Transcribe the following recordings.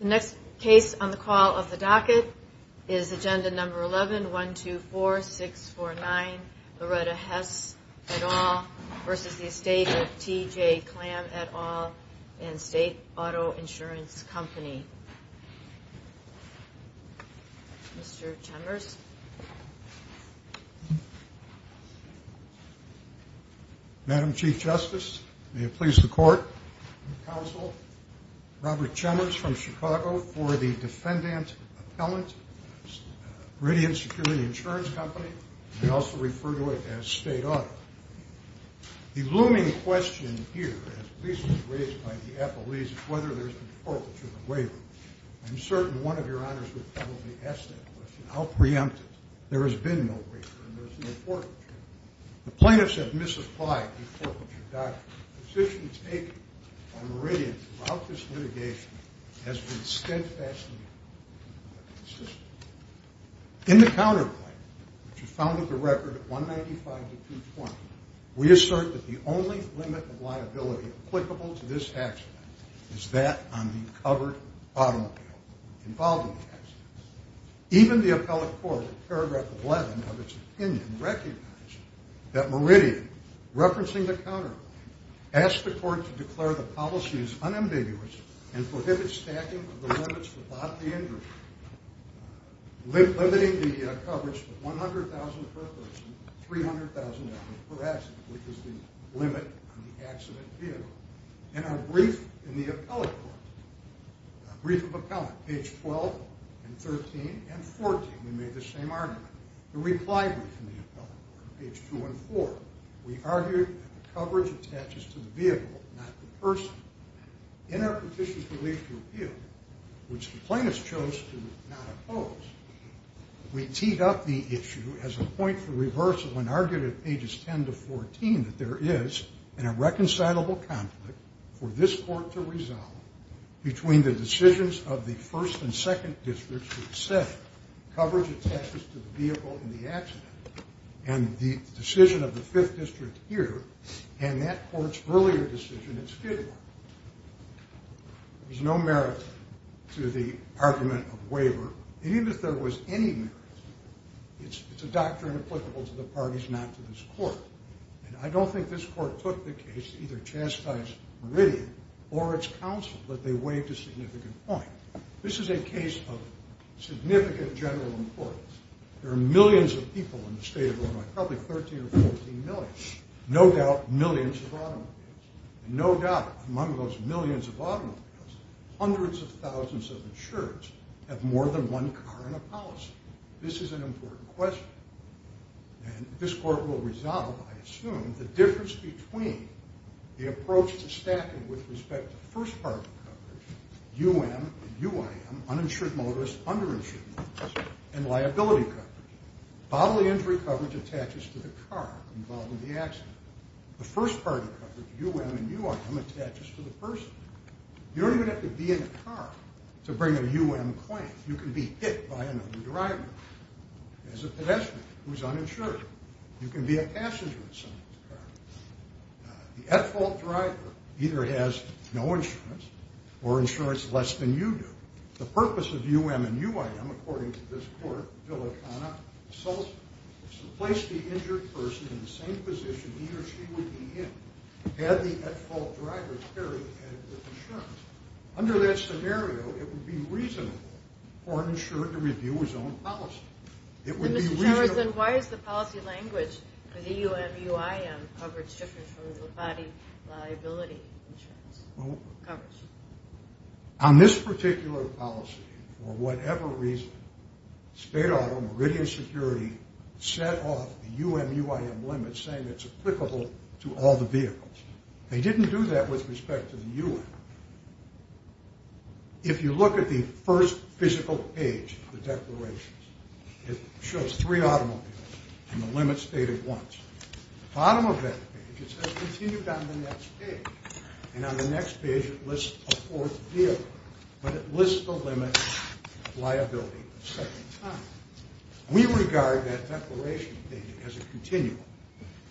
The next case on the call of the docket is Agenda No. 11-124649 Loretta Hess et al. v. The Estate of T.J. Klamm et al. and State Auto Insurance Company. Mr. Chemers. Madam Chief Justice, may it please the Court, Counsel, Robert Chemers from Chicago for the Defendant Appellant, Meridian Security Insurance Company, and I also refer to it as State Auto. The looming question here, as recently raised by the appellees, is whether there's been forfeiture or waiver. I'm certain one of your honors would probably ask that question. How preemptive. There has been no waiver and there's no forfeiture. The plaintiffs have misapplied the forfeiture doctrine. The position taken by Meridian throughout this litigation has been stint-fast and inconsistent. In the counterclaim, which was found with the record at 195 to 220, we assert that the only limit of liability applicable to this accident is that on the covered bottom appeal involving the accident. Even the appellate court in paragraph 11 of its opinion recognized that Meridian, referencing the counterclaim, asked the court to declare the policy as unambiguous and prohibit stacking of the limits without the injury, limiting the coverage to 100,000 per person, 300,000 per accident, which is the limit on the accident appeal. In our brief in the appellate court, brief of appellant, page 12 and 13 and 14, we made the same argument. The reply brief in the appellate court, page 2 and 4, we argued that the coverage attaches to the vehicle, not the person. In our petition for relief to appeal, which the plaintiffs chose to not oppose, we teed up the issue as a point for reversal and argued at pages 10 to 14 that there is an irreconcilable conflict for this court to resolve between the decisions of the first and second districts which said coverage attaches to the vehicle in the accident and the decision of the fifth district here and that court's earlier decision in Skidmore. There's no merit to the argument of waiver, even if there was any merit. It's a doctrine applicable to the parties, not to this court. And I don't think this court took the case to either chastise Meridian or its counsel that they waived a significant point. This is a case of significant general importance. There are millions of people in the state of Illinois, probably 13 or 14 million, no doubt millions of automobiles, and no doubt among those millions of automobiles, hundreds of thousands of insurers have more than one car in a policy. This is an important question. And this court will resolve, I assume, the difference between the approach to stacking with respect to first-party coverage, UM and UIM, uninsured motorists, underinsured motorists, and liability coverage. Bodily injury coverage attaches to the car involved in the accident. The first-party coverage, UM and UIM, attaches to the person. You don't even have to be in a car to bring a UM claim. You can be hit by another driver. There's a pedestrian who's uninsured. You can be a passenger in someone's car. The at-fault driver either has no insurance or insurance less than you do. The purpose of UM and UIM, according to this court, is to place the injured person in the same position he or she would be in had the at-fault driver carried adequate insurance. Under that scenario, it would be reasonable for an insurer to review his own policy. Why is the policy language for the UM and UIM coverage different from the body liability insurance coverage? On this particular policy, for whatever reason, state auto meridian security set off the UM-UIM limit saying it's applicable to all the vehicles. They didn't do that with respect to the UM. If you look at the first physical page of the declarations, it shows three automobiles and the limits stated once. At the bottom of that page, it says continue down the next page. And on the next page, it lists a fourth vehicle, but it lists the limits of liability a second time. We regard that declaration as a continuum.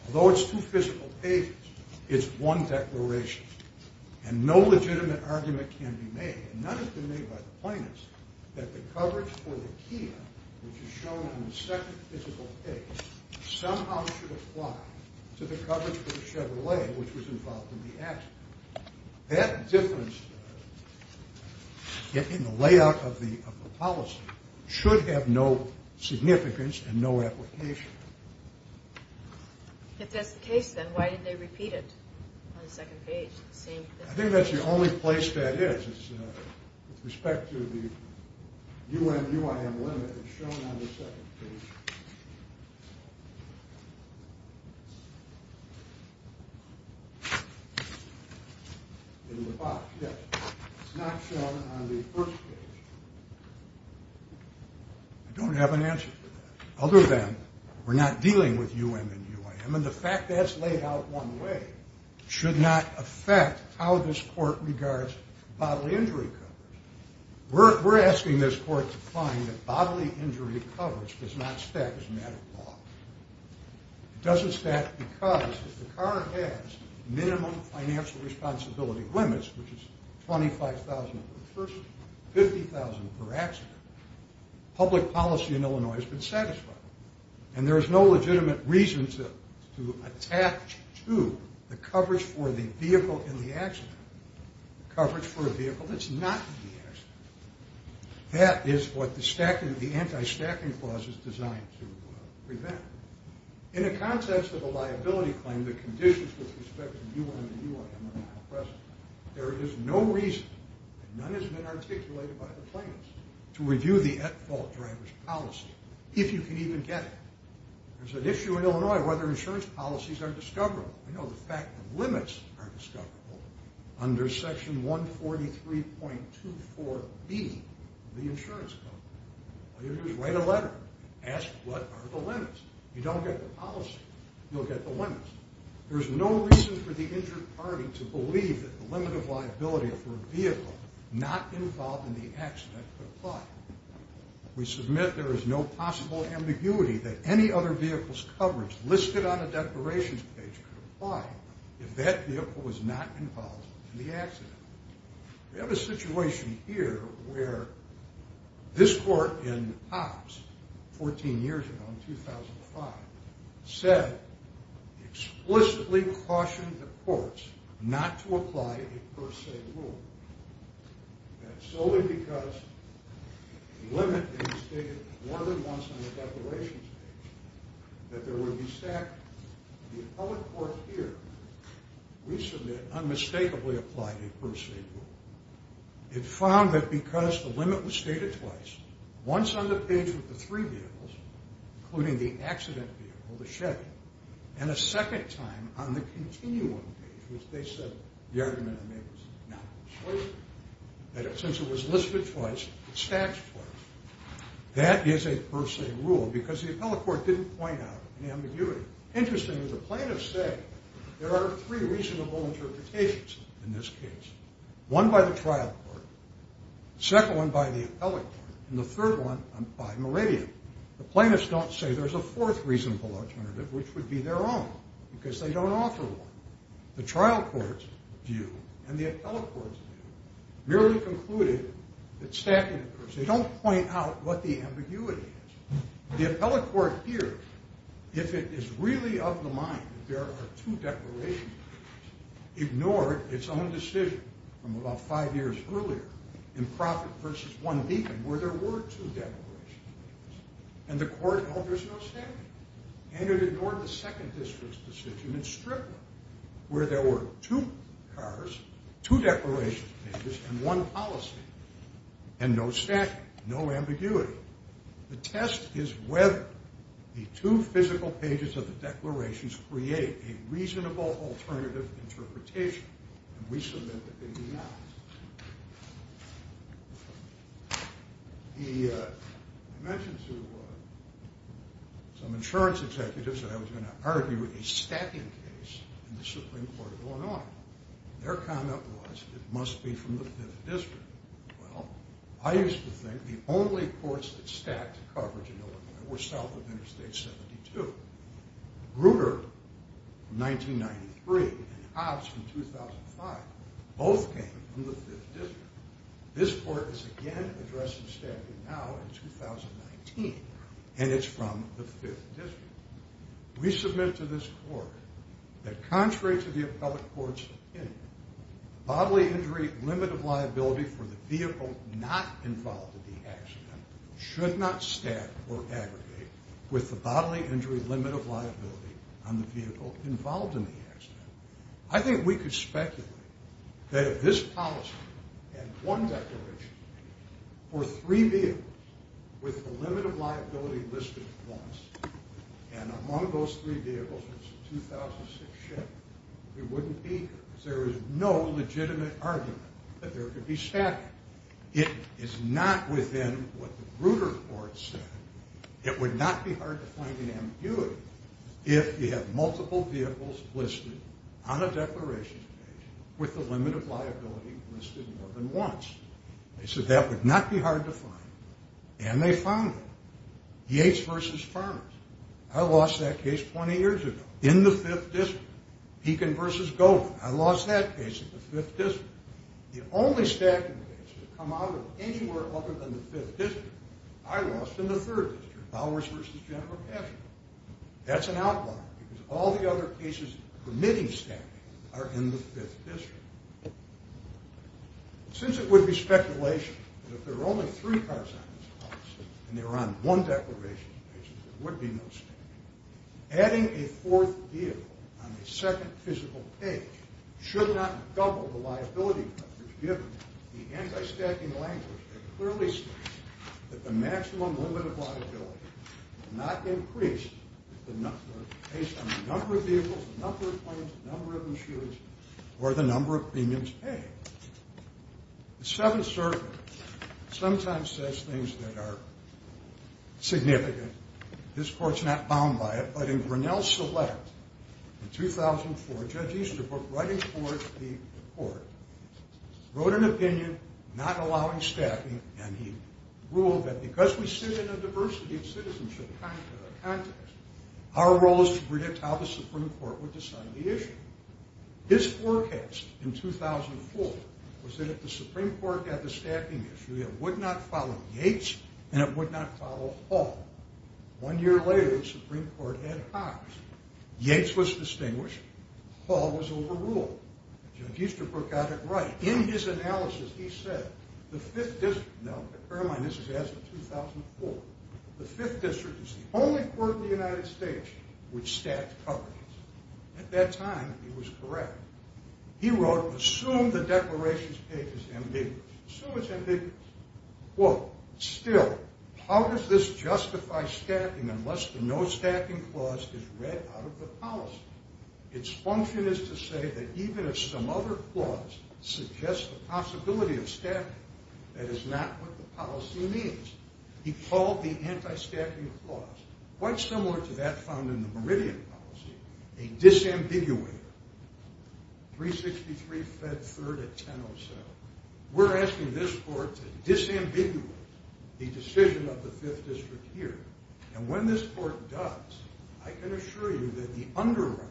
Although it's two physical pages, it's one declaration. And no legitimate argument can be made, and none has been made by the plaintiffs, that the coverage for the Kia, which is shown on the second physical page, somehow should apply to the coverage for the Chevrolet, which was involved in the accident. That difference in the layout of the policy should have no significance and no application. If that's the case, then why did they repeat it on the second page? I think that's the only place that is. With respect to the UM-UIM limit, it's shown on the second page. It's not shown on the first page. I don't have an answer to that, other than we're not dealing with UM and UIM, and the fact that it's laid out one way should not affect how this court regards bodily injury coverage. We're asking this court to find that bodily injury coverage does not stack as a matter of law. It doesn't stack because if the car has minimum financial responsibility limits, which is $25,000 per person, $50,000 per accident, public policy in Illinois has been satisfied. There is no legitimate reason to attach to the coverage for the vehicle in the accident coverage for a vehicle that's not in the accident. That is what the anti-stacking clause is designed to prevent. In the context of a liability claim, the conditions with respect to UM and UIM are not present. There is no reason, and none has been articulated by the plaintiffs, to review the at-fault driver's policy, if you can even get it. There's an issue in Illinois whether insurance policies are discoverable. I know the fact that limits are discoverable under section 143.24b of the insurance code. All you have to do is write a letter, ask what are the limits. If you don't get the policy, you'll get the limits. There is no reason for the injured party to believe that the limit of liability for a vehicle not involved in the accident could apply. We submit there is no possible ambiguity that any other vehicle's coverage listed on a declarations page could apply if that vehicle was not involved in the accident. We have a situation here where this court in Hobbs, 14 years ago in 2005, said, explicitly cautioned the courts not to apply a per se rule. That's solely because the limit is stated more than once on the declarations page, that there would be stacked. The appellate court here, we submit unmistakably applied a per se rule. It found that because the limit was stated twice, once on the page with the three vehicles, including the accident vehicle, the Chevy, and a second time on the continuum page, which they said the argument was not persuasive. Since it was listed twice, it stacks twice. That is a per se rule because the appellate court didn't point out any ambiguity. Interestingly, the plaintiffs say there are three reasonable interpretations in this case. One by the trial court, the second one by the appellate court, and the third one by Meridian. The plaintiffs don't say there's a fourth reasonable alternative, which would be their own, because they don't offer one. The trial court's view and the appellate court's view merely concluded that stacking occurs. They don't point out what the ambiguity is. The appellate court here, if it is really of the mind that there are two declarations pages, ignored its own decision from about five years earlier in Profitt v. One Deacon, where there were two declarations pages. And the court held there's no stacking. And it ignored the second district's decision in Strickland, where there were two cars, two declarations pages, and one policy. And no stacking, no ambiguity. The test is whether the two physical pages of the declarations create a reasonable alternative interpretation. And we submit that they do not. I mentioned to some insurance executives that I was going to argue a stacking case in the Supreme Court of Illinois. Their comment was it must be from the fifth district. Well, I used to think the only courts that stacked coverage in Illinois were south of Interstate 72. Grutter, 1993, and Hobbs, 2005, both came from the fifth district. This court is again addressing stacking now in 2019, and it's from the fifth district. We submit to this court that contrary to the appellate court's opinion, bodily injury limit of liability for the vehicle not involved in the accident should not stack or aggregate with the bodily injury limit of liability on the vehicle involved in the accident. I think we could speculate that if this policy and one declaration were three vehicles with the limit of liability listed for once, and among those three vehicles was a 2006 Chevy, it wouldn't be. There is no legitimate argument that there could be stacking. It is not within what the Grutter court said. It would not be hard to find an ambiguity if you have multiple vehicles listed on a declarations page with the limit of liability listed more than once. They said that would not be hard to find, and they found it. Yates v. Farmers. I lost that case 20 years ago in the fifth district. Beacon v. Goldman. I lost that case in the fifth district. The only stacking cases that come out of anywhere other than the fifth district, I lost in the third district. Bowers v. General Cashman. That's an outlier, because all the other cases permitting stacking are in the fifth district. Since it would be speculation that if there were only three cars on this policy and they were on one declarations page, there would be no stacking, adding a fourth vehicle on the second physical page should not double the liability coverage given the anti-stacking language that clearly states that the maximum limit of liability would not increase based on the number of vehicles, the number of planes, the number of machines, or the number of premiums paid. The Seventh Circuit sometimes says things that are significant. This court's not bound by it, but in Grinnell Select in 2004, Judge Easterbrook, writing for the court, wrote an opinion not allowing stacking, and he ruled that because we sit in a diversity of citizenship context, our role is to predict how the Supreme Court would decide the issue. His forecast in 2004 was that if the Supreme Court had the stacking issue, it would not follow Yates and it would not follow Hall. One year later, the Supreme Court had Cox. Yates was distinguished. Hall was overruled. Judge Easterbrook got it right. In his analysis, he said, the Fifth District is the only court in the United States which stacks coverage. At that time, he was correct. He wrote, assume the declarations page is ambiguous. Assume it's ambiguous. Still, how does this justify stacking unless the no stacking clause is read out of the policy? Its function is to say that even if some other clause suggests the possibility of stacking, that is not what the policy means. He called the anti-stacking clause, quite similar to that found in the Meridian policy, a disambiguator. 363 Fed 3rd at 1007. We're asking this court to disambiguate the decision of the Fifth District here. And when this court does, I can assure you that the underwriters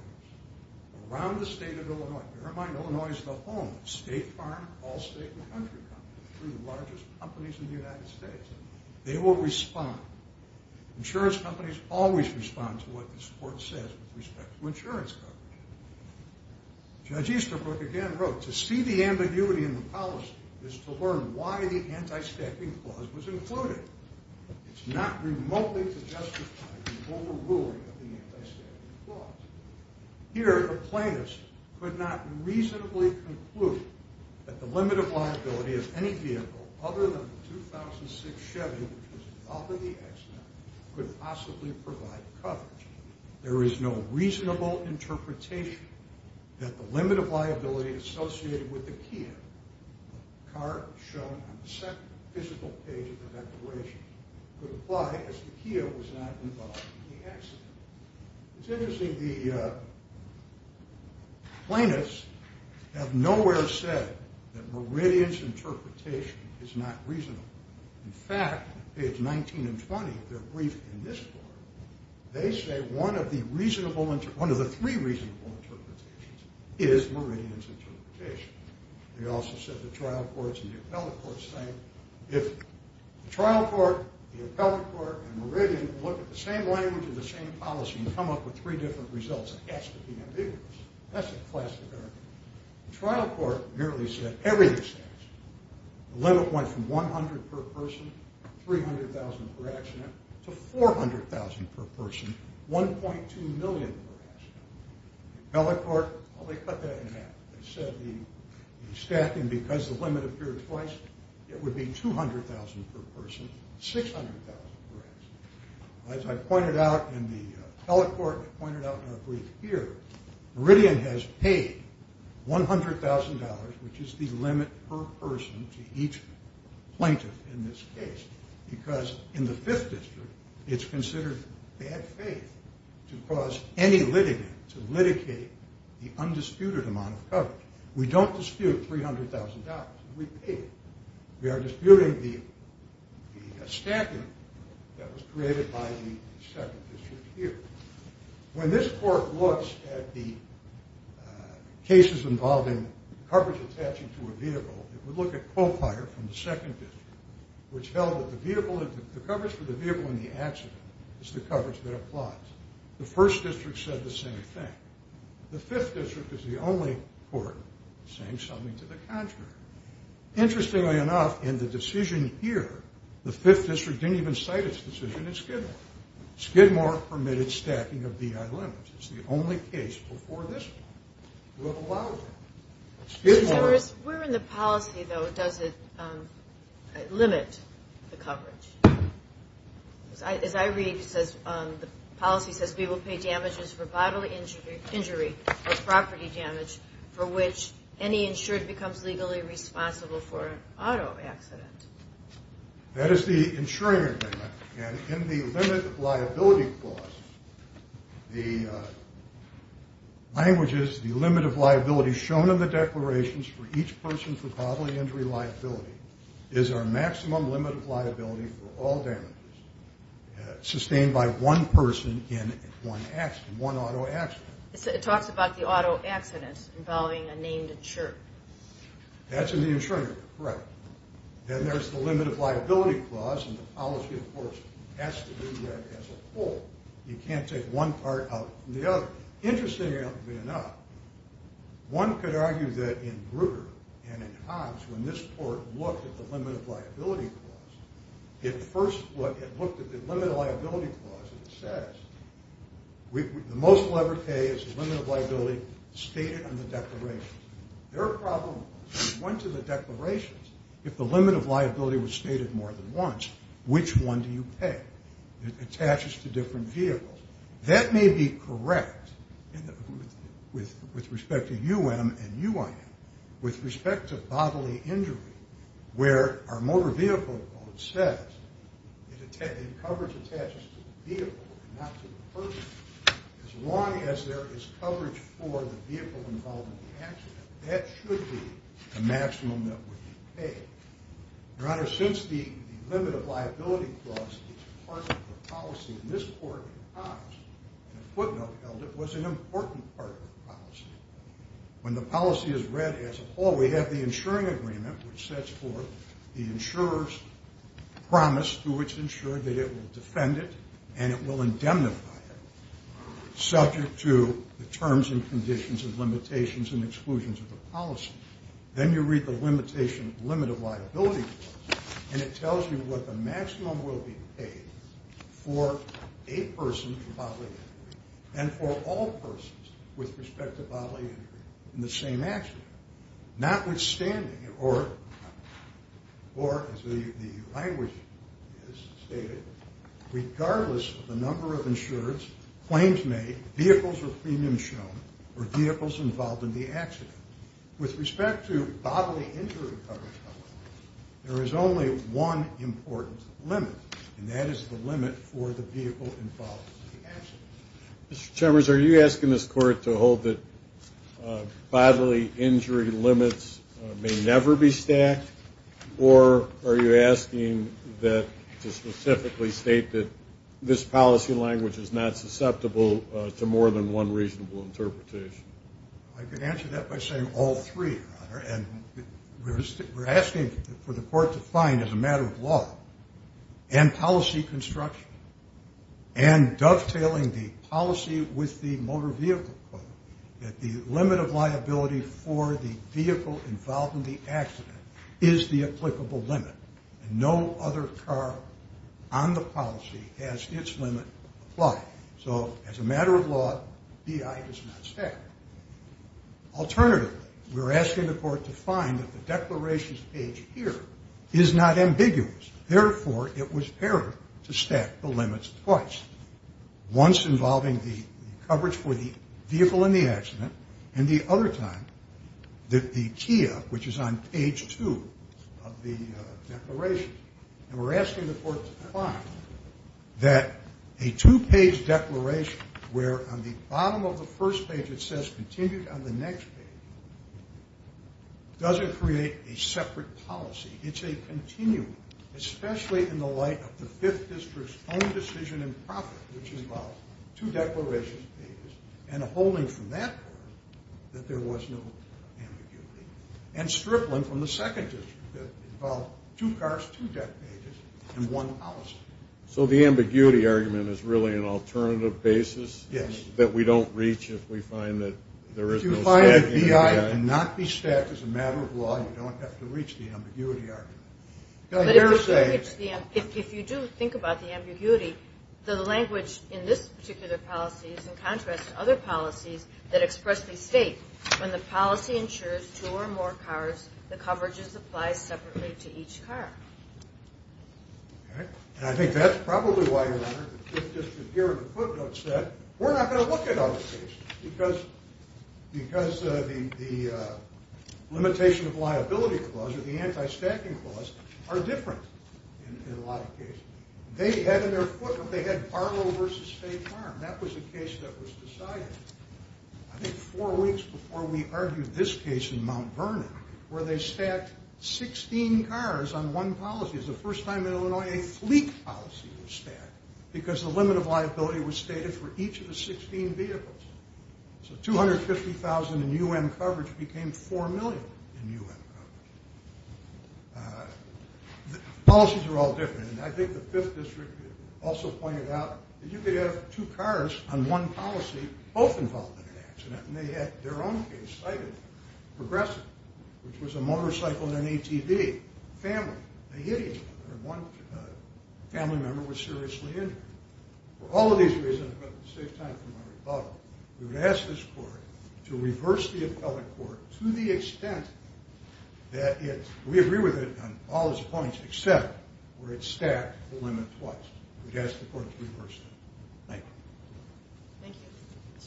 around the state of Illinois, bear in mind Illinois is the home of State Farm, Allstate, and Country Farm. They're the largest companies in the United States. They will respond. Insurance companies always respond to what this court says with respect to insurance coverage. Judge Easterbrook again wrote, to see the ambiguity in the policy is to learn why the anti-stacking clause was included. It's not remotely to justify the overruling of the anti-stacking clause. Here, the plaintiffs could not reasonably conclude that the limit of liability of any vehicle other than the 2006 Chevy, which was involved in the accident, could possibly provide coverage. There is no reasonable interpretation that the limit of liability associated with the Kia, the car shown on the second physical page of the declaration, could apply as the Kia was not involved in the accident. It's interesting, the plaintiffs have nowhere said that Meridian's interpretation is not reasonable. In fact, page 19 and 20 of their brief in this court, they say one of the three reasonable interpretations is Meridian's interpretation. They also said the trial courts and the appellate courts think, if the trial court, the appellate court, and Meridian look at the same language and the same policy and come up with three different results, it has to be ambiguous. That's a classic error. The trial court merely said everything is stacked. The limit went from 100 per person, 300,000 per accident, to 400,000 per person, 1.2 million per accident. They said the stacking, because the limit appeared twice, it would be 200,000 per person, 600,000 per accident. As I pointed out in the appellate court and I pointed out in our brief here, Meridian has paid $100,000, which is the limit per person to each plaintiff in this case, because in the Fifth District, it's considered bad faith to cause any litigant to litigate the undisputed amount of coverage. We don't dispute $300,000. We pay it. We are disputing the stacking that was created by the Second District here. When this court looks at the cases involving coverage attaching to a vehicle, it would look at qualifier from the Second District, which held that the coverage for the vehicle in the accident is the coverage that applies. The First District said the same thing. The Fifth District is the only court saying something to the contrary. Interestingly enough, in the decision here, the Fifth District didn't even cite its decision in Skidmore. Skidmore permitted stacking of DI limits. It's the only case before this one to have allowed that. Skidmore... Where in the policy, though, does it limit the coverage? As I read, the policy says, we will pay damages for bodily injury or property damage for which any insured becomes legally responsible for an auto accident. That is the insuring agreement. And in the limit of liability clause, the language is, the limit of liability shown in the declarations for each person for bodily injury liability is our maximum limit of liability for all damages sustained by one person in one auto accident. It talks about the auto accident involving a named insurer. That's in the insuring agreement, correct. Then there's the limit of liability clause, and the policy, of course, has to do that as a whole. You can't take one part out from the other. Interestingly enough, one could argue that in Brugger and in Hobbs, when this court looked at the limit of liability clause, it first looked at the limit of liability clause, and it says, the most leveraged pay is the limit of liability stated on the declaration. Their problem was, once in the declarations, if the limit of liability was stated more than once, which one do you pay? It attaches to different vehicles. That may be correct with respect to UM and UIN. With respect to bodily injury, where our motor vehicle code says, the coverage attaches to the vehicle and not to the person. As long as there is coverage for the vehicle involved in the accident, that should be the maximum that would be paid. Your Honor, since the limit of liability clause is part of the policy, this court in Hobbs, in a footnote held, it was an important part of the policy. When the policy is read as a whole, we have the insuring agreement, which sets forth the insurer's promise to which insurer that it will defend it and it will indemnify it, subject to the terms and conditions and limitations and exclusions of the policy. Then you read the limit of liability clause, and it tells you what the maximum will be paid for a person's bodily injury, and for all persons with respect to bodily injury in the same accident. Notwithstanding, or as the language is stated, regardless of the number of insurers, claims made, vehicles or premiums shown, or vehicles involved in the accident. With respect to bodily injury coverage, however, there is only one important limit, and that is the limit for the vehicle involved in the accident. Mr. Chambers, are you asking this court to hold that bodily injury limits may never be stacked, or are you asking that to specifically state that this policy language is not susceptible to more than one reasonable interpretation? I could answer that by saying all three, Your Honor, and we're asking for the court to find, as a matter of law, and policy construction, and dovetailing the policy with the motor vehicle quote, that the limit of liability for the vehicle involved in the accident is the applicable limit, and no other car on the policy has its limit applied. So, as a matter of law, B.I. is not stacked. Alternatively, we're asking the court to find that the declarations page here is not ambiguous. Therefore, it was fair to stack the limits twice, once involving the coverage for the vehicle in the accident, and the other time that the TIA, which is on page two of the declaration. And we're asking the court to find that a two-page declaration where on the bottom of the first page it says, continued on the next page, doesn't create a separate policy. It's a continuum, especially in the light of the Fifth District's own decision in profit, which involved two declarations pages and a holding from that part that there was no ambiguity, and stripling from the Second District that involved two cars, two deck pages, and one policy. So the ambiguity argument is really an alternative basis that we don't reach if we find that there is no stack. If you hire B.I. and not be stacked as a matter of law, you don't have to reach the ambiguity argument. If you do think about the ambiguity, the language in this particular policy is in contrast to other policies that expressly state when the policy ensures two or more cars, the coverages apply separately to each car. And I think that's probably why, Your Honor, the Fifth District here in the footnotes said, we're not going to look at other cases because the limitation of liability clause, or the anti-stacking clause, are different in a lot of cases. They had in their footnote, they had Barlow v. State Farm. That was a case that was decided, I think, four weeks before we argued this case in Mount Vernon, where they stacked 16 cars on one policy. It was the first time in Illinois a fleet policy was stacked because the limit of liability was stated for each of the 16 vehicles. So $250,000 in U.N. coverage became $4 million in U.N. coverage. Policies are all different, and I think the Fifth District also pointed out that you could have two cars on one policy, both involved in an accident, and they had their own case cited, Progressive, which was a motorcycle and an ATV family. They hit each other, and one family member was seriously injured. For all of these reasons, I'm going to save time for my rebuttal. We would ask this court to reverse the appellate court to the extent that it, we agree with it on all its points, except where it stacked the limit twice. We'd ask the court to reverse it. Thank you. Thank you, Mr. Chambers. Mr. Schaffer. Thank you, Your Honor. It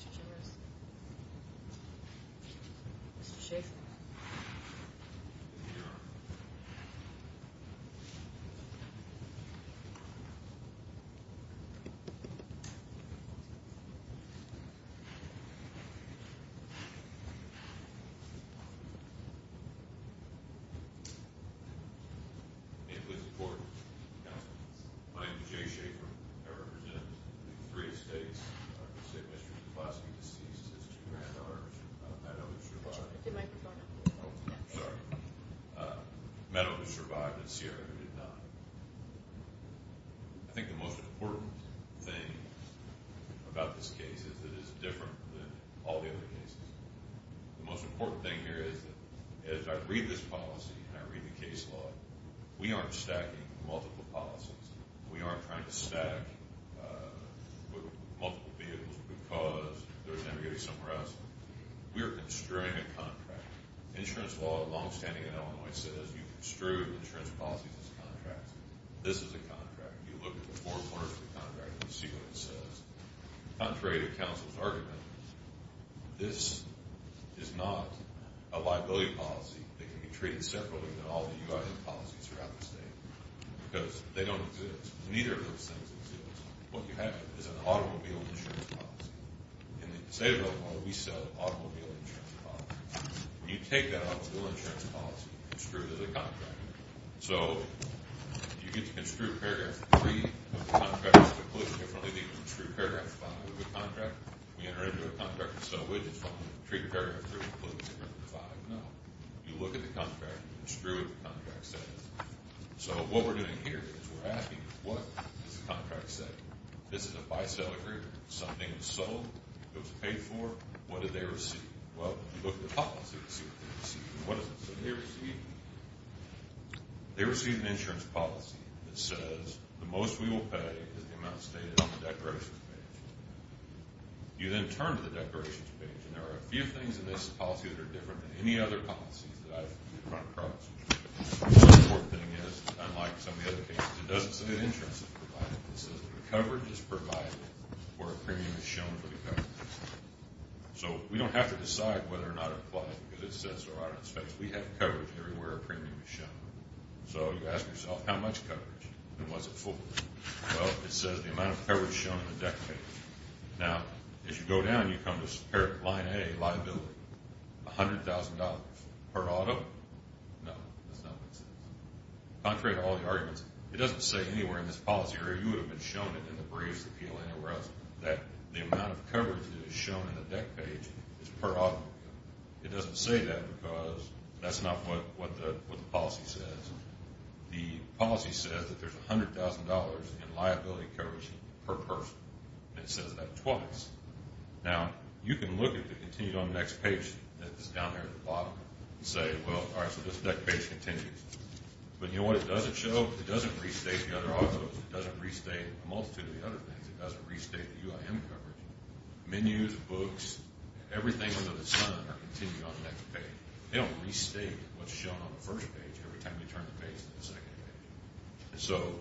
was important. My name is Jay Schaffer. I represent three estates. I can say Mr. Kapowski deceased. His two granddaughters, I know, survived. Sorry. Meadow, who survived, and Sierra, who did not. I think the most important thing about this case is that it is different than all the other cases. The most important thing here is that as I read this policy and I read the case law, we aren't stacking multiple policies. We aren't trying to stack multiple vehicles because there was never going to be somewhere else. We are construing a contract. Insurance law, longstanding in Illinois, says you construe insurance policies as contracts. This is a contract. You look at the four corners of the contract and see what it says. Contrary to counsel's argument, this is not a liability policy. They can be treated separately than all the UIN policies throughout the state because they don't exist. Neither of those things exist. What you have is an automobile insurance policy. In the state of Illinois, we sell automobile insurance policies. When you take that automobile insurance policy and construe it as a contract, so you get to construe paragraph three of the contract differently than you can construe paragraph five of the contract. When you enter into a contract and sell widgets, you want to treat paragraph three of the contract differently than paragraph five. No. You look at the contract and construe what the contract says. So what we're doing here is we're asking, what does the contract say? This is a buy-sell agreement. Something was sold. It was paid for. What did they receive? Well, you look at the policy and see what they received. What does it say? They received an insurance policy that says the most we will pay is the amount stated on the declarations page. You then turn to the declarations page, and there are a few things in this policy that are different than any other policies that I've run across. One important thing is, unlike some of the other cases, it doesn't say an insurance is provided. It says the coverage is provided where a premium is shown for the coverage. So we don't have to decide whether or not to apply, because it says there are expenses. We have coverage everywhere a premium is shown. So you ask yourself, how much coverage? And what's it for? Well, it says the amount of coverage shown in the declaration. Now, as you go down, you come to line A, liability, $100,000 per auto. No, that's not what it says. Contrary to all the arguments, it doesn't say anywhere in this policy, or you would have been shown it in the briefs, the PLA, whereas the amount of coverage that is shown in the deck page is per auto. It doesn't say that because that's not what the policy says. The policy says that there's $100,000 in liability coverage per person, and it says that twice. Now, you can look at the continue on the next page that is down there at the bottom and say, well, all right, so this deck page continues. But you know what it doesn't show? It doesn't restate the other autos. It doesn't restate a multitude of the other things. It doesn't restate the UIM coverage. Menus, books, everything under the sun are continued on the next page. They don't restate what's shown on the first page every time you turn the page to the second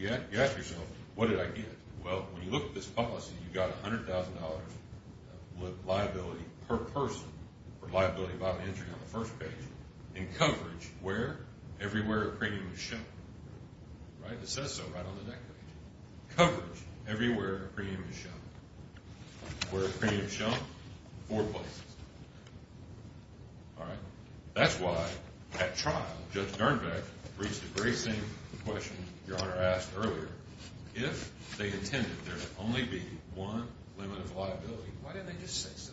page. So you ask yourself, what did I get? Well, when you look at this policy, you've got $100,000 liability per person or liability by entry on the first page, and coverage where? Everywhere a premium is shown. It says so right on the deck page. Coverage everywhere a premium is shown. Where a premium is shown? Four places. That's why at trial Judge Dernbeck reached the very same question Your Honor asked earlier. If they intended there to only be one limit of liability, why didn't they just say so?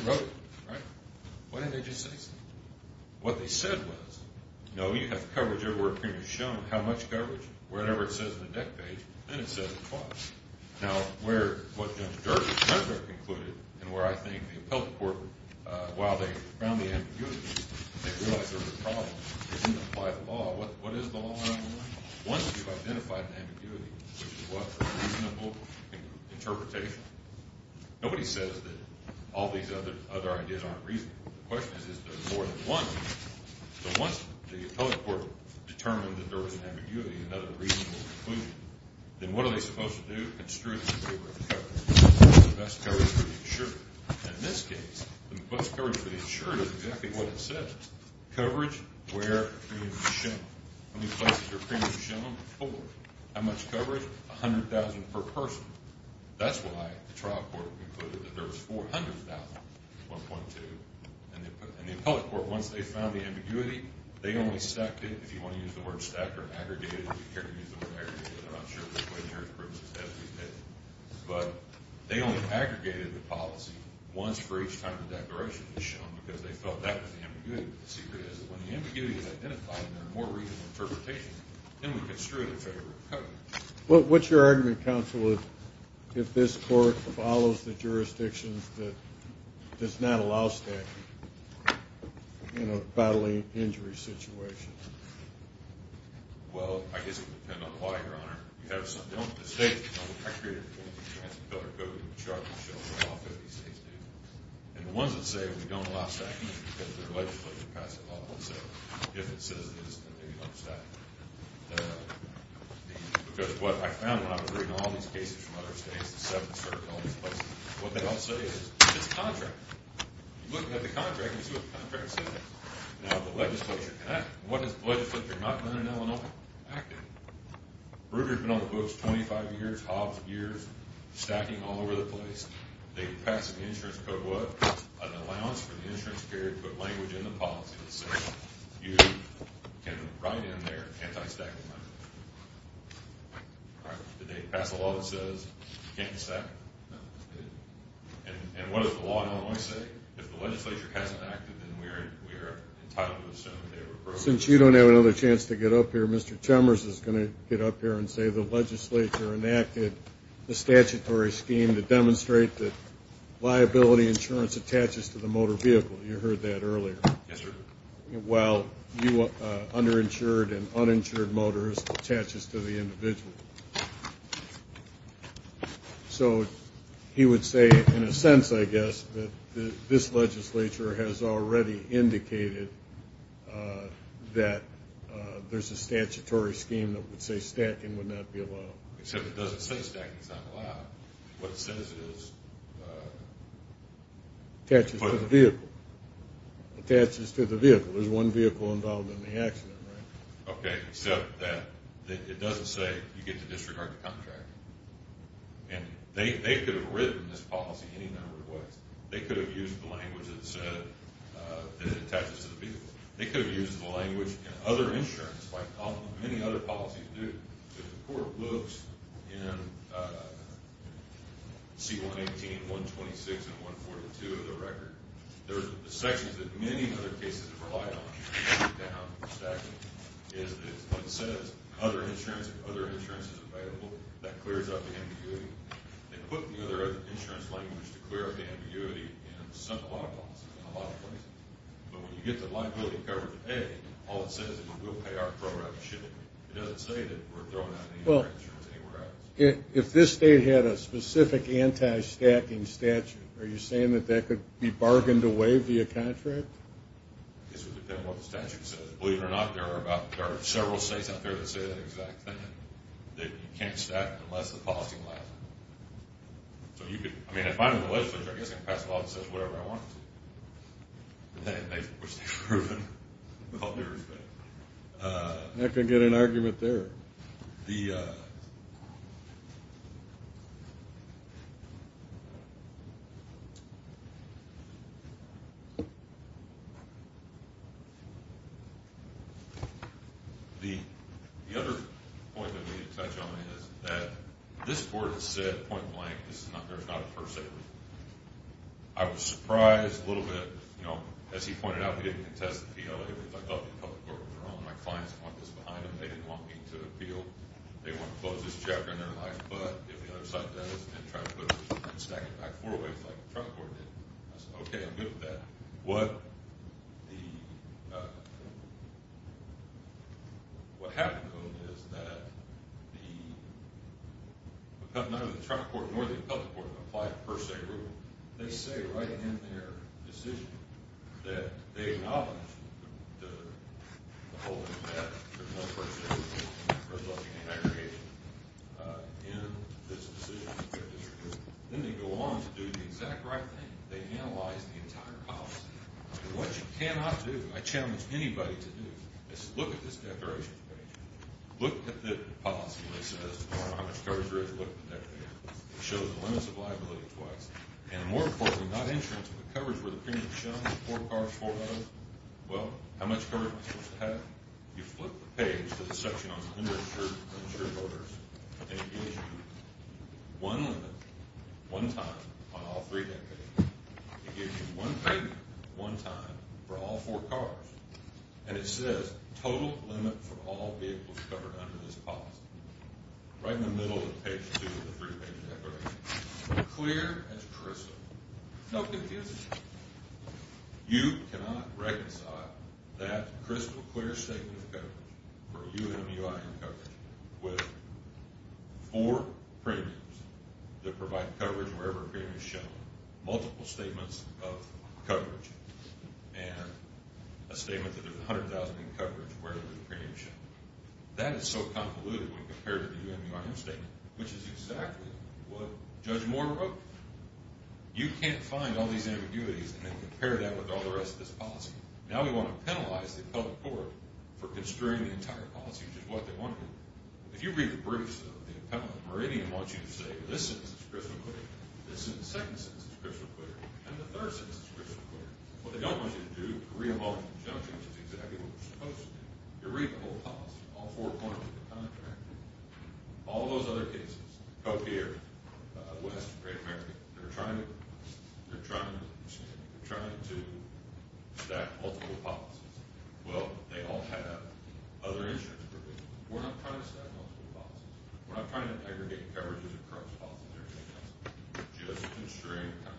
They wrote it, right? Why didn't they just say so? What they said was, no, you have coverage everywhere a premium is shown. How much coverage? Whatever it says on the deck page. Then it says the cost. Now, what Judge Dernbeck concluded, and where I think the appellate court, while they found the ambiguity, they realized there was a problem. They didn't apply the law. What is the law? Once you've identified the ambiguity, which is what? Reasonable interpretation. Nobody says that all these other ideas aren't reasonable. The question is, is there more than one? Once the appellate court determined that there was an ambiguity, another reasonable conclusion, then what are they supposed to do? Construe the best coverage for the insured. In this case, the best coverage for the insured is exactly what it says. Coverage where a premium is shown. How many places are premiums shown? Four. How much coverage? $100,000 per person. That's why the trial court concluded that there was $400,000, 1.2, and the appellate court, once they found the ambiguity, they only stacked it. If you want to use the word stacked or aggregated, you can use the word aggregated, but I'm not sure which way the jurisprudence says we did. But they only aggregated the policy once for each time the declaration was shown because they felt that was the ambiguity. The secret is that when the ambiguity is identified and there are more reasonable interpretations, then we construe the federal coverage. What's your argument, counsel, if this court follows the jurisdictions that does not allow stacking in a bodily injury situation? Well, I guess it would depend on why, Your Honor. We have some. The states don't. I created a transparent code in the Charter that shows all 50 states do. And the ones that say we don't allow stacking are because they're legislative. If it says it is, then maybe you don't stack it. Because what I found when I was reading all these cases from other states, the seven certain elements, what they all say is it's contract. You look at the contract and see what the contract says. Now the legislature can act. What does the legislature not do in Illinois? Act it. Ruger's been on the books 25 years, Hobbs years, stacking all over the place. They pass an insurance code, what? An allowance for the insurance period to put language in the policy that says you can write in there anti-stacking money. Did they pass a law that says you can't stack? No. And what does the law in Illinois say? If the legislature hasn't acted, then we are entitled to assume they were broke. Since you don't have another chance to get up here, Mr. Chalmers is going to get up here and say the legislature enacted the statutory scheme to demonstrate that liability insurance attaches to the motor vehicle. You heard that earlier. Yes, sir. While underinsured and uninsured motors attaches to the individual. So he would say, in a sense, I guess, that this legislature has already indicated that there's a statutory scheme that would say stacking would not be allowed. Except it doesn't say stacking is not allowed. What it says is attaches to the vehicle. Attaches to the vehicle. There's one vehicle involved in the accident, right? Okay. Except that it doesn't say you get to disregard the contract. And they could have written this policy any number of ways. They could have used the language that attaches to the vehicle. They could have used the language in other insurance, like many other policies do. If the court looks in C-118, 126, and 142 of the record, there's sections that many other cases have relied on, down stacking, is what it says. Other insurance, if other insurance is available, that clears up ambiguity. They put the other insurance language to clear up ambiguity in a lot of policies, in a lot of places. But when you get the liability covered today, all it says is we'll pay our program shipping. It doesn't say that we're throwing out any insurance anywhere else. If this state had a specific anti-stacking statute, are you saying that that could be bargained away via contract? It would depend on what the statute says. Believe it or not, there are several states out there that say that exact thing, that you can't stack unless the policy allows it. So you could, I mean, if I'm in the legislature, I guess I can pass a law that says whatever I want to, which they've proven with all due respect. Not going to get an argument there. The other point that we need to touch on is that this Court has said point blank, this is not a first statement. I was surprised a little bit, you know, as he pointed out, I didn't contest the PLA because I thought the Appellate Court was wrong. My clients didn't want this behind them. They didn't want me to appeal. They want to close this chapter in their life. But if the other side does and tries to put it and stack it back four ways like the Appellate Court did, I said, okay, I'm good with that. What happened, though, is that neither the Appellate Court nor the Appellate Court applied per se rule. They say right in their decision that they acknowledge the holding of that for the most part of the case, for the most part of the case, in this decision. Then they go on to do the exact right thing. They analyze the entire policy. And what you cannot do, I challenge anybody to do, is look at this declaration page. Look at the policy that says how much coverage there is. Look at that page. It shows the limits of liability twice. And more importantly, not insurance, but coverage where the premium is shown, four cars, four loads. Well, how much coverage am I supposed to have? You flip the page to the section on uninsured voters, and it gives you one limit, one time, on all three deck pages. It gives you one payment, one time, for all four cars. And it says total limit for all vehicles covered under this policy. Right in the middle of page two of the three-page declaration. Clear as crystal. No confusion. You cannot reconcile that crystal clear statement of coverage, or UMUI coverage, with four premiums that provide coverage wherever premium is shown, multiple statements of coverage, and a statement that there's $100,000 in coverage wherever the premium is shown. That is so convoluted when compared to the UMUIM statement, which is exactly what Judge Moore wrote. You can't find all these ambiguities and then compare that with all the rest of this policy. Now we want to penalize the public court for constraining the entire policy, which is what they want to do. If you read the briefs, though, the appellate meridian wants you to say, this sentence is crystal clear, this sentence, the second sentence is crystal clear, and the third sentence is crystal clear. What they don't want you to do is re-evaluate the judgment, which is exactly what you're supposed to do. If you read the whole policy, all four points of the contract, all those other cases, Copiaire, West, Great America, they're trying to stack multiple policies. Well, they all have other instruments. We're not trying to stack multiple policies. We're not trying to aggregate coverages across policies. Just constraining the contract.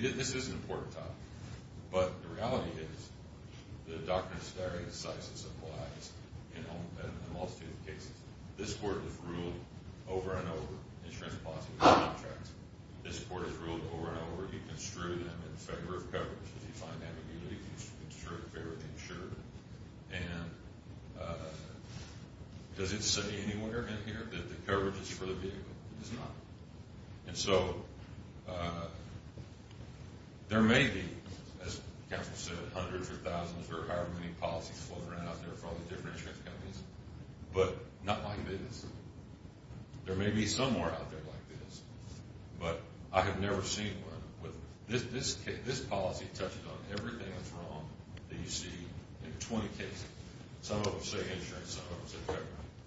This is an important topic, but the reality is the doctrine is very decisive in most cases. This court has ruled over and over, insurance policy contracts, this court has ruled over and over, you construe them in favor of coverage. If you find ambiguity, you construe it in favor of the insurer. And does it say anywhere in here that the coverage is for the vehicle? It does not. And so there may be, as counsel said, hundreds or thousands or however many policies floating around out there for all the different insurance companies, but not like this. There may be some more out there like this, but I have never seen one where this policy touches on everything that's wrong that you see in 20 cases. Some of them say insurance, some of them say coverage.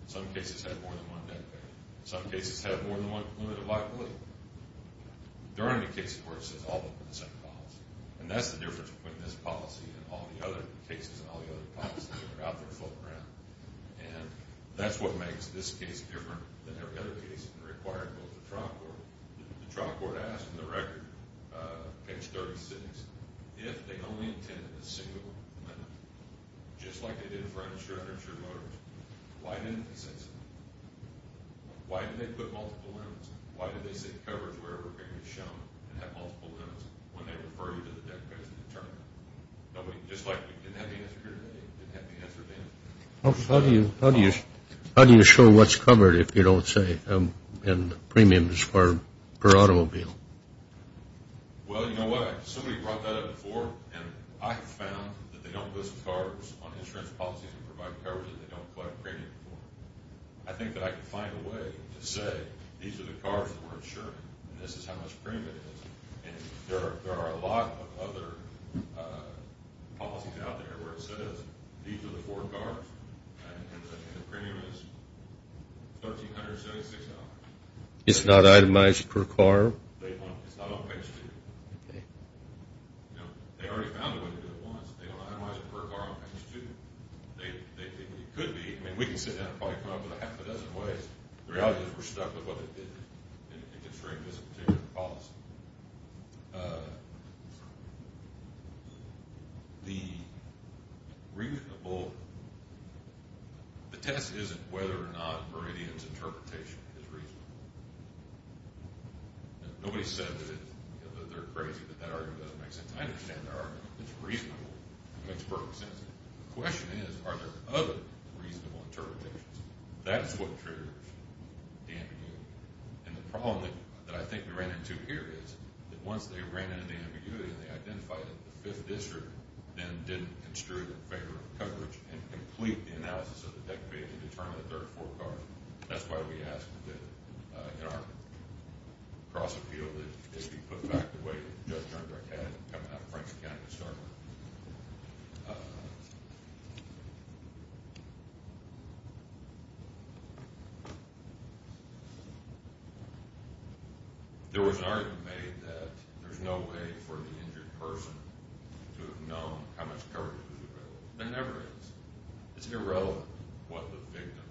Some cases have more than one debt payer. Some cases have more than one limited liability. There aren't any cases where it says all of them in the same policy. And that's the difference between this policy and all the other cases and all the other policies that are out there floating around. And that's what makes this case different than every other case and required both the trial court. The trial court asked in the record, page 36, if they only intended a single limit, just like they did for insurance or motors, why didn't they say so? Why did they put multiple limits? Why did they say coverage wherever it may be shown and have multiple limits when they refer you to the debt payer to determine? Just like we didn't have the answer here today, we didn't have the answer then. How do you show what's covered if you don't say premiums per automobile? Well, you know what? Somebody brought that up before, and I have found that they don't list CARs on insurance policies and provide coverage that they don't collect premiums for. I think that I can find a way to say these are the CARs that we're insuring and this is how much premium it is. There are a lot of other policies out there where it says these are the four CARs and the premium is $1,376. It's not itemized per CAR? It's not on page 2. They already found a way to do it once. They don't itemize it per CAR on page 2. It could be. I mean, we can sit down and probably come up with a half a dozen ways. The reality is we're stuck with what they did. It's a very specific policy. The test isn't whether or not Meridian's interpretation is reasonable. Nobody said that they're crazy, but that argument doesn't make sense. I understand that argument. It's reasonable. It makes perfect sense. The question is, are there other reasonable interpretations? That's what triggers the ambiguity. The problem that I think we ran into here is that once they ran into the ambiguity and they identified it, the 5th District then didn't construe in favor of coverage and complete the analysis of the decommissioned to determine the third four CARs. That's why we asked that in our cross-appeal that it be put back the way coming out of Franklin County to start with. There was an argument made that there's no way for the injured person to have known how much coverage was available. There never is. It's irrelevant what the victim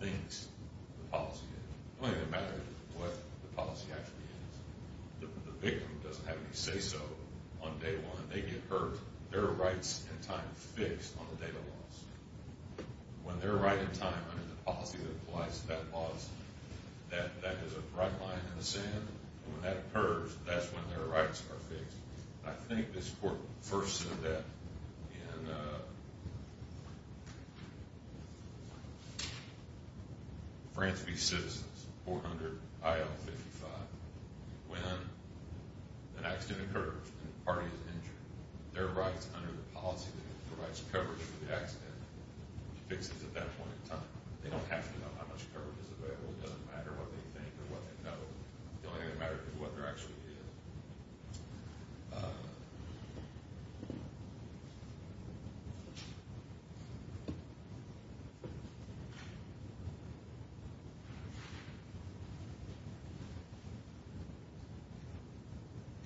thinks the policy is. The only thing that matters is what the policy actually is. The victim doesn't have any say-so on day one. They get hurt. Their rights in time are fixed on the day they're lost. When they're right in time under the policy that applies to that loss, that is a bright line in the sand. I think this court first said that in France v. Citizens, 400 IL 55, when an accident occurs and the party is injured, their rights under the policy that provides coverage for the accident is fixed at that point in time. They don't have to know how much coverage is available. It doesn't matter what they think or what they know. The only thing that matters is what they're actually doing.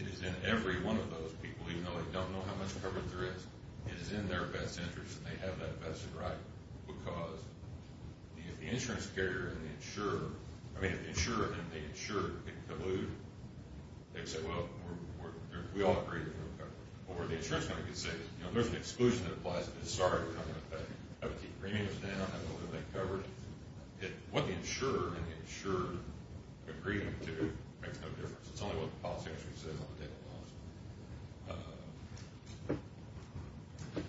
It is in every one of those people, even though they don't know how much coverage there is, it is in their best interest that they have that vested right because if the insurance carrier and the insurer, I mean if the insurer and the insured get colluded, they can say, well, we all agree there's no coverage. Or the insurance company can say, you know, there's an exclusion that applies, but sorry, I'm going to have to keep the premiums down. I don't want to make coverage. What the insurer and the insured agree to makes no difference. It's only what the policy actually says on the day they're lost.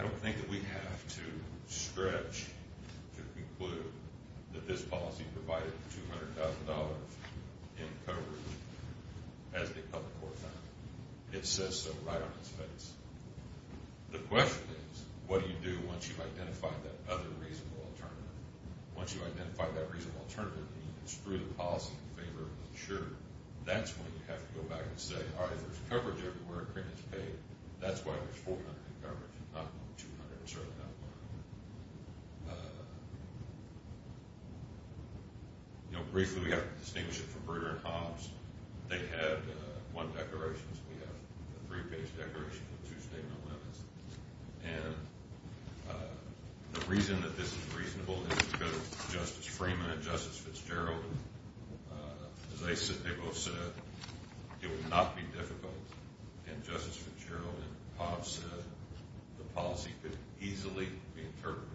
I don't think that we have to stretch to conclude that this policy provided $200,000 in coverage as the public court found it. It says so right on its face. The question is, what do you do once you've identified that other reasonable alternative? Once you've identified that reasonable alternative and you construe the policy in favor of the insurer, that's when you have to go back and say, all right, if there's coverage everywhere and premiums are paid, that's why there's $400,000 in coverage and not $200,000, certainly not $100,000. You know, briefly, we have to distinguish it from Breeder and Hobbs. They had one declaration. We have a three-page declaration with two statement limits. And the reason that this is reasonable is because Justice Freeman and Justice Fitzgerald, as they both said, it would not be difficult, and Justice Fitzgerald and Hobbs said the policy could easily be interpreted.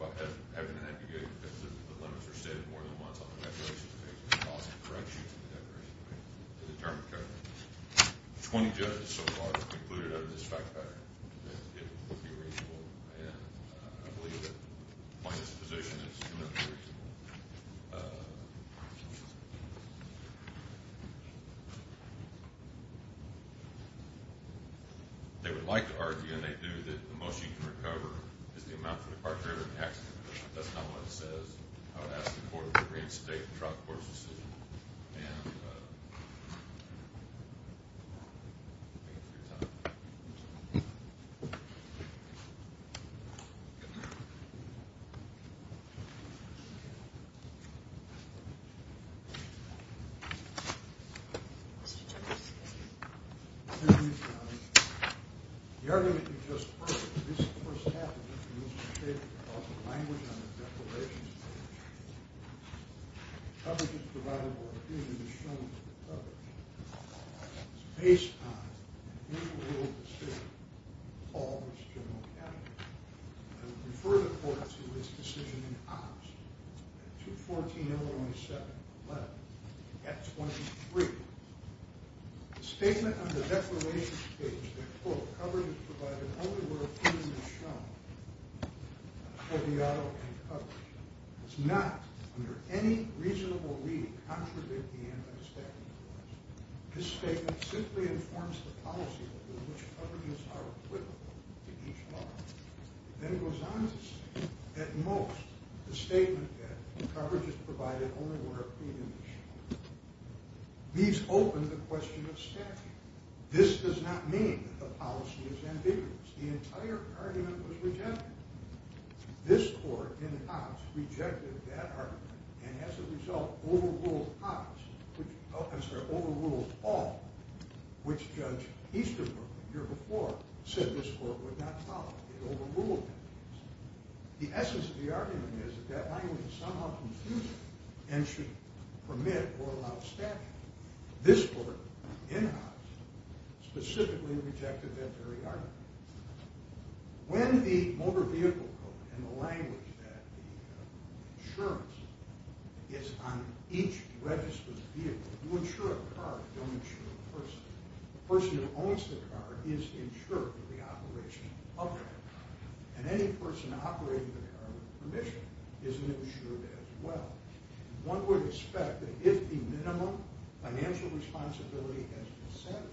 I've been advocating because the limits are stated more than once on the regulations and the policy corrects you to the declaration to determine coverage. Twenty judges so far have concluded under this fact pattern that it would be reasonable. And I believe that, by this position, it's going to be reasonable. They would like to argue, and they do, that the most you can recover is the amount for the car carrier and the accident. That's not what it says. I would ask the court to reinstate the trial court's decision. Thank you. The argument you just heard, this first half, is a statement about the language on the declarations page. Coverage is provided only where opinion is shown to be covered. It's based on an individual rule of the state, called Mr. General Kennedy. I would refer the court to his decision in Hobbs, at 214-017-11, at 23. The statement on the declarations page, that, quote, coverage is provided only where opinion is shown, to be covered, does not, under any reasonable reading, contradict the anti-staffing clause. This statement simply informs the policy under which coverages are equivalent to each law. Then it goes on to say, at most, the statement that coverage is provided only where opinion is shown. These open the question of staffing. This does not mean that the policy is ambiguous. The entire argument was rejected. This court, in Hobbs, rejected that argument, and, as a result, overruled Hobbs, I'm sorry, overruled all, which Judge Easterbrook, the year before, said this court would not follow. It overruled Hobbs. The essence of the argument is that that language is somehow confusing and should permit or allow staffing. This court, in Hobbs, specifically rejected that very argument. When the motor vehicle code and the language that the insurance is on each registered vehicle, you insure a car, you don't insure a person. The person who owns the car is insured for the operation of that car, and any person operating the car with permission is insured as well. One would expect that if the minimum financial responsibility has been satisfied,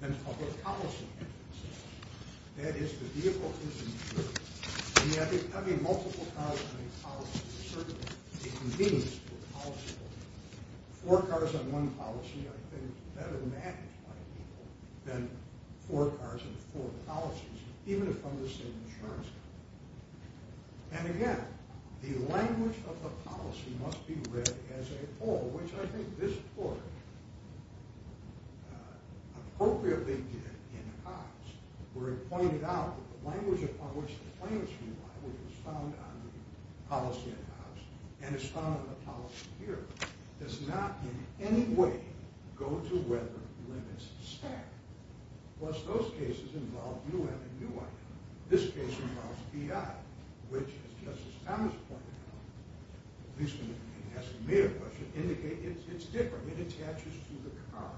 then public policy has been satisfied. That is, the vehicle is insured. Having multiple cars on a policy is certainly a convenience to a policyholder. Four cars on one policy, I think, is better managed by people than four cars on four policies, even if under the same insurance company. And again, the language of the policy must be read as a whole, which I think this court appropriately did in Hobbs, where it pointed out that the language upon which the claims rely, which was found on the policy in Hobbs and is found on the policy here, does not in any way go to whether limits staff. Plus, those cases involve U.N. and U.I. This case involves the U.I., which, as Justice Thomas pointed out, at least in asking me a question, indicates it's different. It attaches to the car,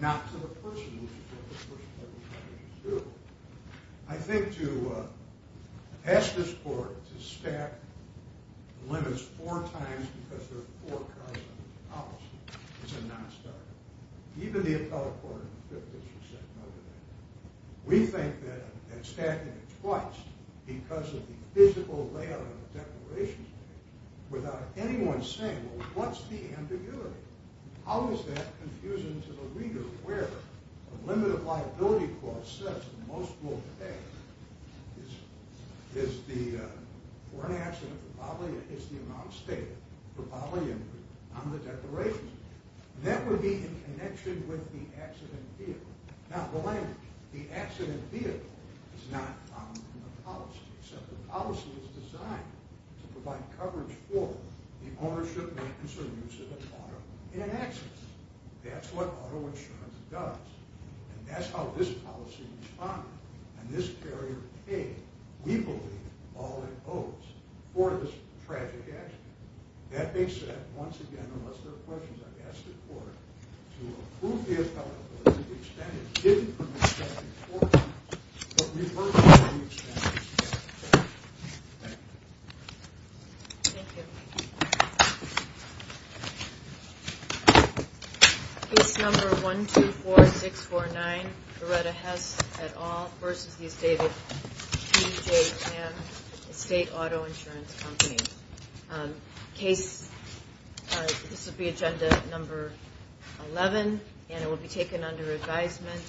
not to the person who is in the first place. I think to ask this court to stack limits four times because there are four cars on the policy is a nonstarter. Even the appellate court in the Fifth District said no to that. We think that stacking it twice because of the physical layout of the declarations without anyone saying, well, what's the ambiguity? How is that confusing to the reader where the limit of liability clause says that most will pay is the amount stated for bodily injury on the declarations. That would be in connection with the accident here, Now, the language, the accident vehicle, is not found in the policy, except the policy is designed to provide coverage for the ownership, maintenance, or use of an auto in an accident. That's what auto insurance does, and that's how this policy was founded, and this carrier paid, we believe, all it owes for this tragic accident. That being said, once again, unless there are questions, I've asked the court to approve the appellate court to extend it to the appellate court, but revert it to the extended case. Thank you. Thank you. Case number 124649, Loretta Hess et al. v. David P. J. Tan, a state auto insurance company. Case, this would be agenda number 11, and it will be taken under advisement,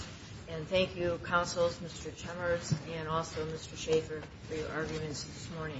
and thank you, counsels, Mr. Chemers, and also Mr. Schaffer for your arguments this morning.